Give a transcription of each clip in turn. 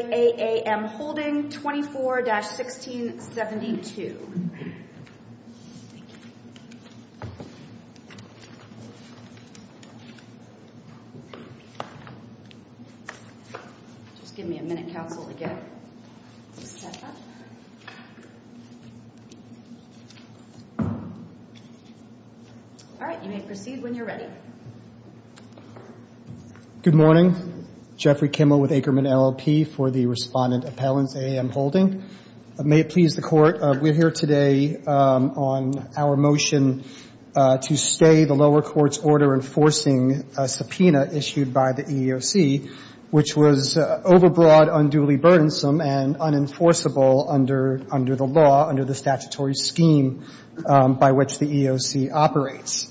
24-1672. Just give me a minute, counsel, to get this set up. All right, you may proceed when you're ready. Good morning. Jeffrey Kimmel with Akerman LLP for the Respondent Appellants AAM Holding. May it please the Court, we're here today on our motion to stay the lower court's order enforcing subpoena issued by the EEOC, which was overbroad, unduly burdensome, and unenforceable under the law, under the statutory scheme by which the EEOC operates.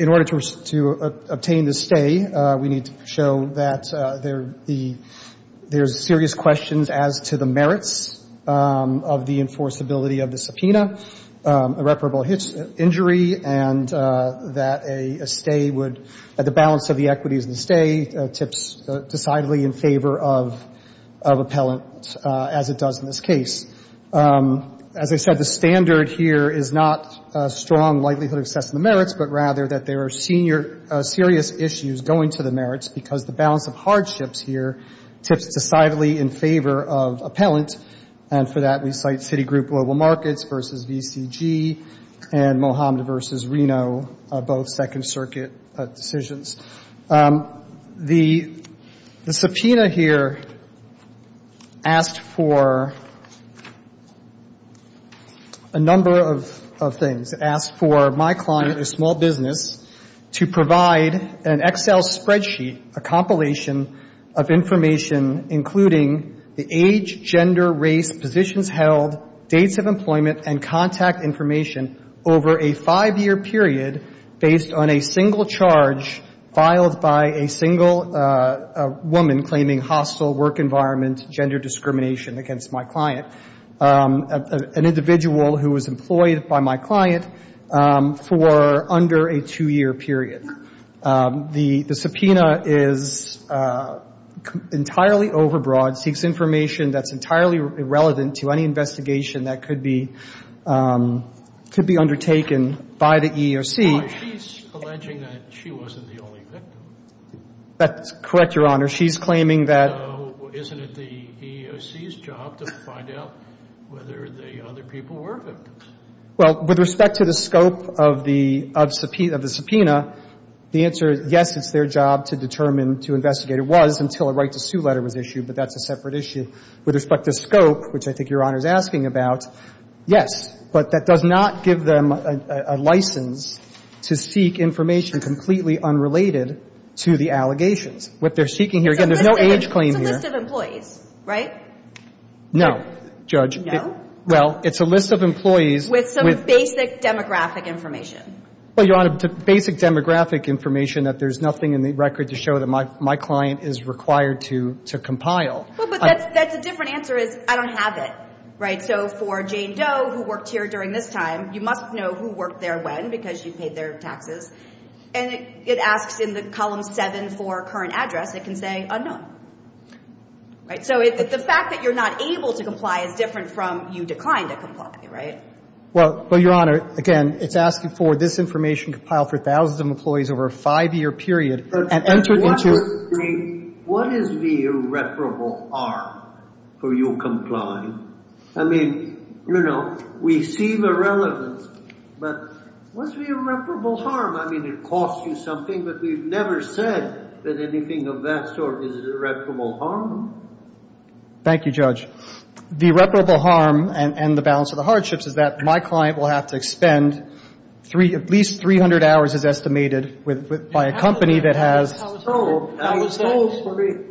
In order to obtain the stay, we need to show that there's serious questions as to the merits of the enforceability of the subpoena, irreparable injury, and that a stay would, that the balance of the equity of the stay tips decidedly in favor of appellant, as it does in this case. As I said, the standard here is not a strong likelihood of assessing the merits, but rather that there are senior, serious issues going to the merits because the balance of hardships here tips decidedly in favor of appellant. And for that, we cite Citigroup Global Markets v. VCG and Mohamed v. Reno, both Second Circuit decisions. The subpoena here asked for a number of things. It asked for my client, a small business, to provide an Excel spreadsheet, a compilation of information, including the age, gender, race, positions held, dates of employment, and contact information over a five-year period based on a single charge filed by a single woman claiming hostile work environment, gender discrimination against my client, an individual who was employed by my client for under a two-year period. The subpoena is entirely overbroad, seeks information that's entirely irrelevant to any investigation that could be undertaken by the EEOC. Oh, she's alleging that she wasn't the only victim. That's correct, Your Honor. She's claiming that — So isn't it the EEOC's job to find out whether the other people were victims? Well, with respect to the scope of the subpoena, the answer is, yes, it's their job to determine, to investigate. It was until a right-to-sue letter was issued, but that's a separate issue. With respect to scope, which I think Your Honor is asking about, yes. But that does not give them a license to seek information completely unrelated to the allegations. What they're seeking here, again, there's no age claim here. It's a list of employees, right? No, Judge. No? Well, it's a list of employees with — With some basic demographic information. Well, Your Honor, basic demographic information that there's nothing in the record to show that my client is required to compile. Well, but that's a different answer is I don't have it, right? So for Jane Doe, who worked here during this time, you must know who worked there when because you paid their taxes. And it asks in the column 7 for current address. It can say unknown, right? So the fact that you're not able to comply is different from you declined to comply, right? Well, Your Honor, again, it's asking for this information compiled for thousands of employees over a five-year period and entered into — But what is the irreparable harm for you complying? I mean, you know, we see the relevance, but what's the irreparable harm? I mean, it costs you something, but we've never said that anything of that sort is irreparable harm. Thank you, Judge. The irreparable harm and the balance of the hardships is that my client will have to spend at least 300 hours, as estimated, by a company that has — I was told for real.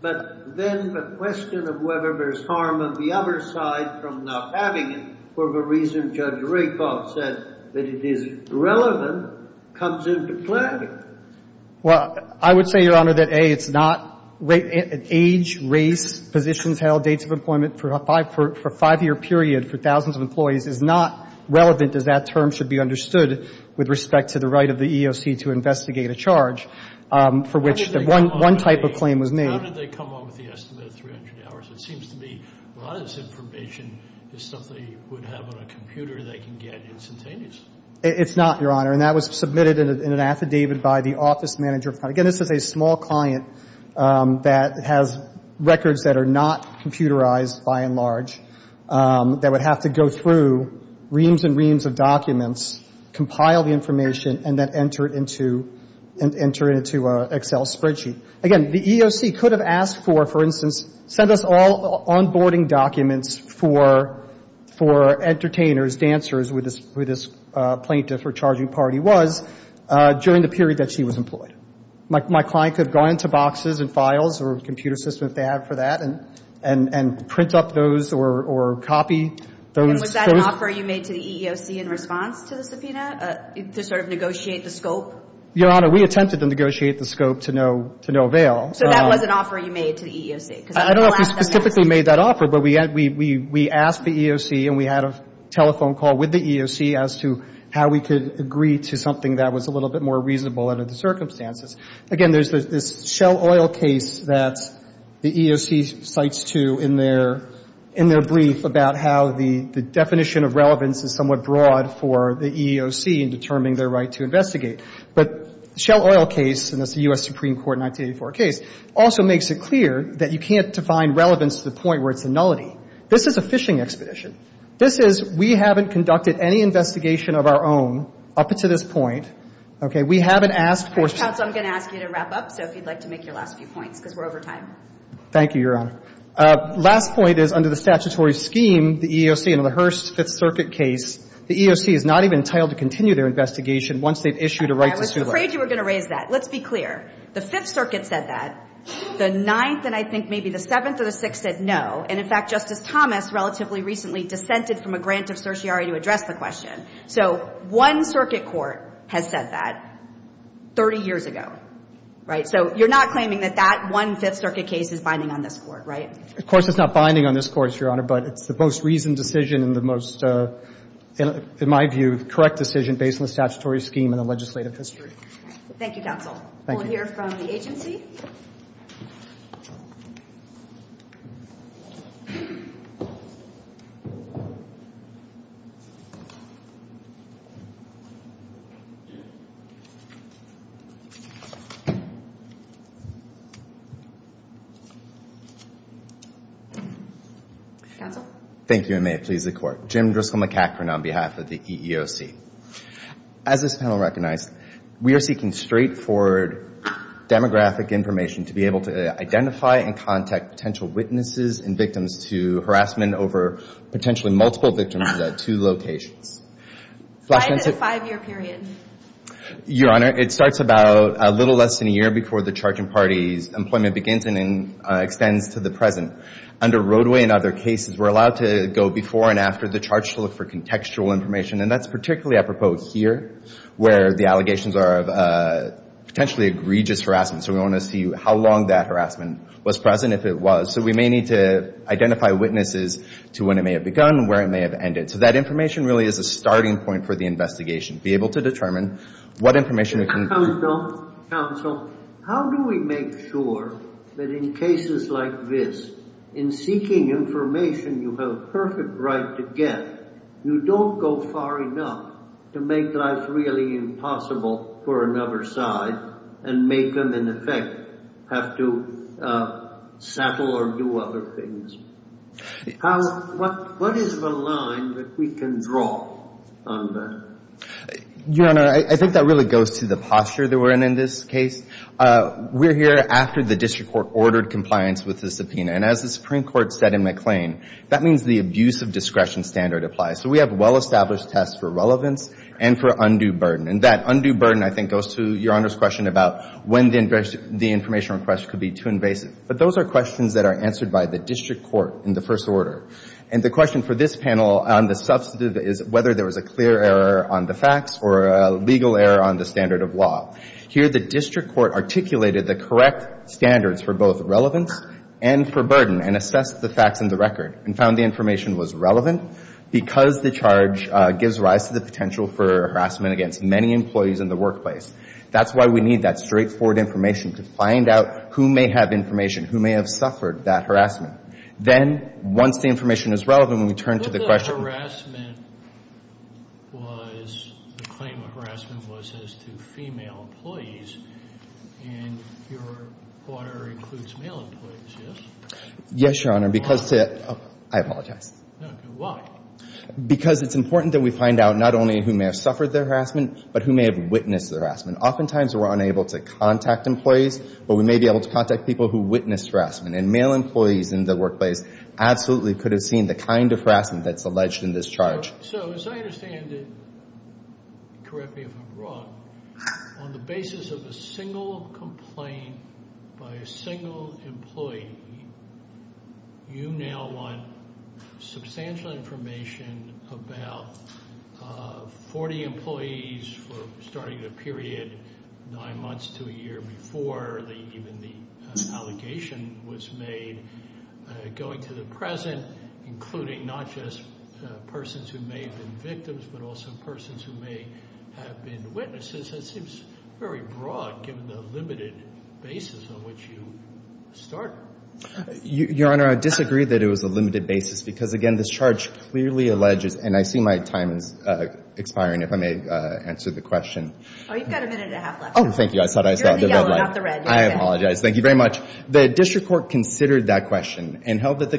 But then the question of whether there's harm on the other side from not having it for the reason Judge Rakoff said, that it is relevant, comes into play. Well, I would say, Your Honor, that, A, it's not — age, race, positions held, dates of employment for a five-year period for thousands of employees is not relevant, as that term should be understood with respect to the right of the EEOC to investigate a charge, for which one type of claim was made. How did they come up with the estimate of 300 hours? It seems to me a lot of this information is something they would have on a computer they can get instantaneously. It's not, Your Honor. And that was submitted in an affidavit by the office manager. Again, this is a small client that has records that are not computerized, by and large, that would have to go through reams and reams of documents, compile the information, and then enter it into an Excel spreadsheet. Again, the EEOC could have asked for, for instance, send us all onboarding documents for entertainers, dancers, who this plaintiff or charging party was, during the period that she was employed. My client could have gone into boxes and files or a computer system, if they have for that, and print up those or copy those. And was that an offer you made to the EEOC in response to the subpoena, to sort of negotiate the scope? Your Honor, we attempted to negotiate the scope to no avail. So that was an offer you made to the EEOC? I don't know if we specifically made that offer, but we asked the EEOC and we had a telephone call with the EEOC as to how we could agree to something that was a little bit more reasonable under the circumstances. Again, there's this Shell Oil case that the EEOC cites to in their brief about how the definition of relevance is somewhat broad for the EEOC in determining their right to investigate. But Shell Oil case, and it's a U.S. Supreme Court 1984 case, also makes it clear that you can't define relevance to the point where it's a nullity. This is a fishing expedition. This is, we haven't conducted any investigation of our own up to this point. Okay. We haven't asked for ---- Counsel, I'm going to ask you to wrap up, so if you'd like to make your last few points, because we're over time. Thank you, Your Honor. Last point is, under the statutory scheme, the EEOC under the Hearst Fifth Circuit case, the EEOC is not even entitled to continue their investigation once they've issued a right to sue them. I was afraid you were going to raise that. Let's be clear. The Fifth Circuit said that. The Ninth and I think maybe the Seventh or the Sixth said no. And, in fact, Justice Thomas relatively recently dissented from a grant of certiorari to address the question. So one circuit court has said that 30 years ago, right? So you're not claiming that that one Fifth Circuit case is binding on this Court, right? Of course, it's not binding on this Court, Your Honor. But it's the most reasoned decision and the most, in my view, correct decision based on the statutory scheme and the legislative history. Thank you, Counsel. Thank you. We'll hear from the agency. Counsel? Thank you, and may it please the Court. Jim Driscoll McEachron on behalf of the EEOC. As this panel recognized, we are seeking straightforward demographic information to be able to identify and contact potential witnesses and victims to harassment over potentially multiple victims at two locations. Five-year period. Your Honor, it starts about a little less than a year before the charging party's employment begins and extends to the present. Under Roadway and other cases, we're allowed to go before and after the charge to look for contextual information, and that's particularly apropos here, where the allegations are of potentially egregious harassment. So we want to see how long that harassment was present, if it was. So we may need to identify witnesses to when it may have begun, where it may have ended. So that information really is a starting point for the investigation, be able to determine what information we can— Counsel, how do we make sure that in cases like this, in seeking information you have a perfect right to get, you don't go far enough to make life really impossible for another side and make them, in effect, have to settle or do other things? What is the line that we can draw on that? Your Honor, I think that really goes to the posture that we're in in this case. We're here after the district court ordered compliance with the subpoena, and as the Supreme Court said in McLean, that means the abuse of discretion standard applies. So we have well-established tests for relevance and for undue burden. And that undue burden, I think, goes to Your Honor's question about when the information request could be too invasive. But those are questions that are answered by the district court in the first order. And the question for this panel on the substantive is whether there was a clear error on the facts or a legal error on the standard of law. Here the district court articulated the correct standards for both relevance and for burden and assessed the facts and the record and found the information was relevant because the charge gives rise to the potential for harassment against many employees in the workplace. That's why we need that straightforward information to find out who may have information, who may have suffered that harassment. Then, once the information is relevant, when we turn to the question of harassment, was the claim of harassment was as to female employees, and Your Honor includes male employees, yes? Yes, Your Honor, because to the – I apologize. Okay. Why? Because it's important that we find out not only who may have suffered the harassment but who may have witnessed the harassment. Oftentimes we're unable to contact employees, but we may be able to contact people who witnessed harassment. And male employees in the workplace absolutely could have seen the kind of harassment that's alleged in this charge. So as I understand it, correct me if I'm wrong, on the basis of a single complaint by a single employee, you now want substantial information about 40 employees for starting the period nine months to a year before even the allegation was made. Going to the present, including not just persons who may have been victims but also persons who may have been witnesses, that seems very broad given the limited basis on which you started. Your Honor, I disagree that it was a limited basis because, again, this charge clearly alleges – and I see my time is expiring if I may answer the question. Oh, you've got a minute and a half left. Oh, thank you. I thought I saw the red light. You're in the yellow, not the red. I apologize. Thank you very much. The district court considered that question and held that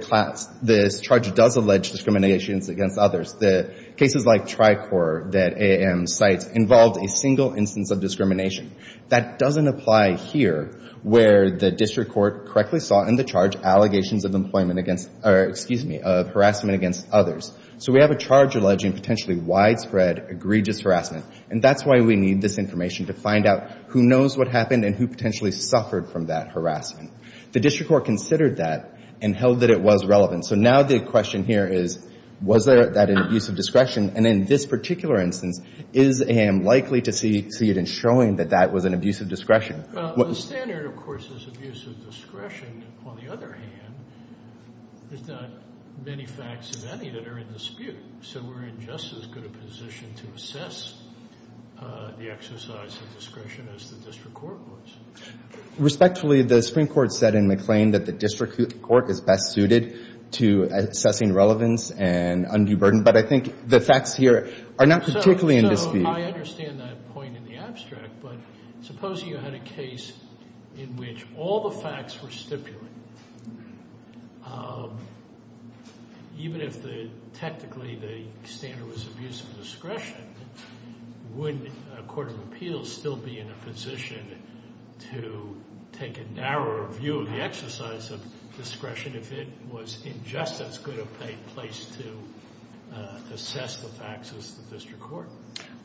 this charge does allege discriminations against others. The cases like Tricor that AAM cites involved a single instance of discrimination. That doesn't apply here where the district court correctly saw in the charge allegations of employment against – or, excuse me, of harassment against others. So we have a charge alleging potentially widespread, egregious harassment, and that's why we need this information to find out who knows what happened and who potentially suffered from that harassment. The district court considered that and held that it was relevant. So now the question here is, was that an abuse of discretion? And in this particular instance, is AAM likely to see it in showing that that was an abuse of discretion? The standard, of course, is abuse of discretion. On the other hand, there's not many facts of any that are in dispute. So we're in just as good a position to assess the exercise of discretion as the district court was. Respectfully, the Supreme Court said in McLean that the district court is best suited to assessing relevance and undue burden, but I think the facts here are not particularly in dispute. So I understand that point in the abstract, but supposing you had a case in which all the facts were stipulated, even if technically the standard was abuse of discretion, would a court of appeals still be in a position to take a narrower view of the exercise of discretion if it was in just as good a place to assess the facts as the district court?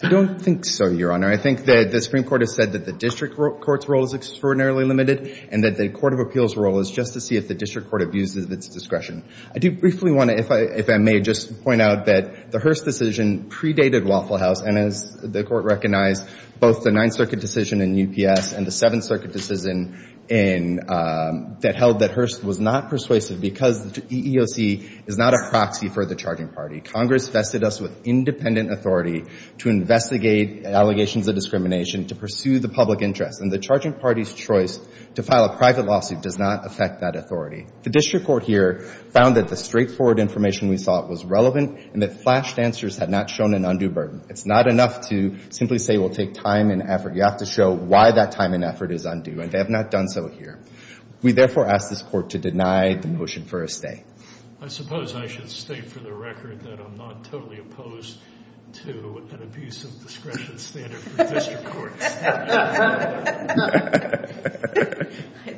I don't think so, Your Honor. I think that the Supreme Court has said that the district court's role is extraordinarily limited and that the court of appeals' role is just to see if the district court abuses its discretion. I do briefly want to, if I may, just point out that the Hearst decision predated Waffle House and, as the Court recognized, both the Ninth Circuit decision in UPS and the Seventh Circuit decision that held that Hearst was not persuasive because the EEOC is not a proxy for the charging party. Congress vested us with independent authority to investigate allegations of discrimination, to pursue the public interest, and the charging party's choice to file a private lawsuit does not affect that authority. The district court here found that the straightforward information we sought was relevant and that flashed answers had not shown an undue burden. It's not enough to simply say we'll take time and effort. You have to show why that time and effort is undue, and they have not done so here. We therefore ask this Court to deny the motion for a stay. I suppose I should state for the record that I'm not totally opposed to an abuse of discretion standard for district courts.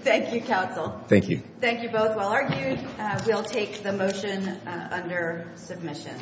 Thank you, counsel. Thank you. Thank you both. While argued, we'll take the motion under submission.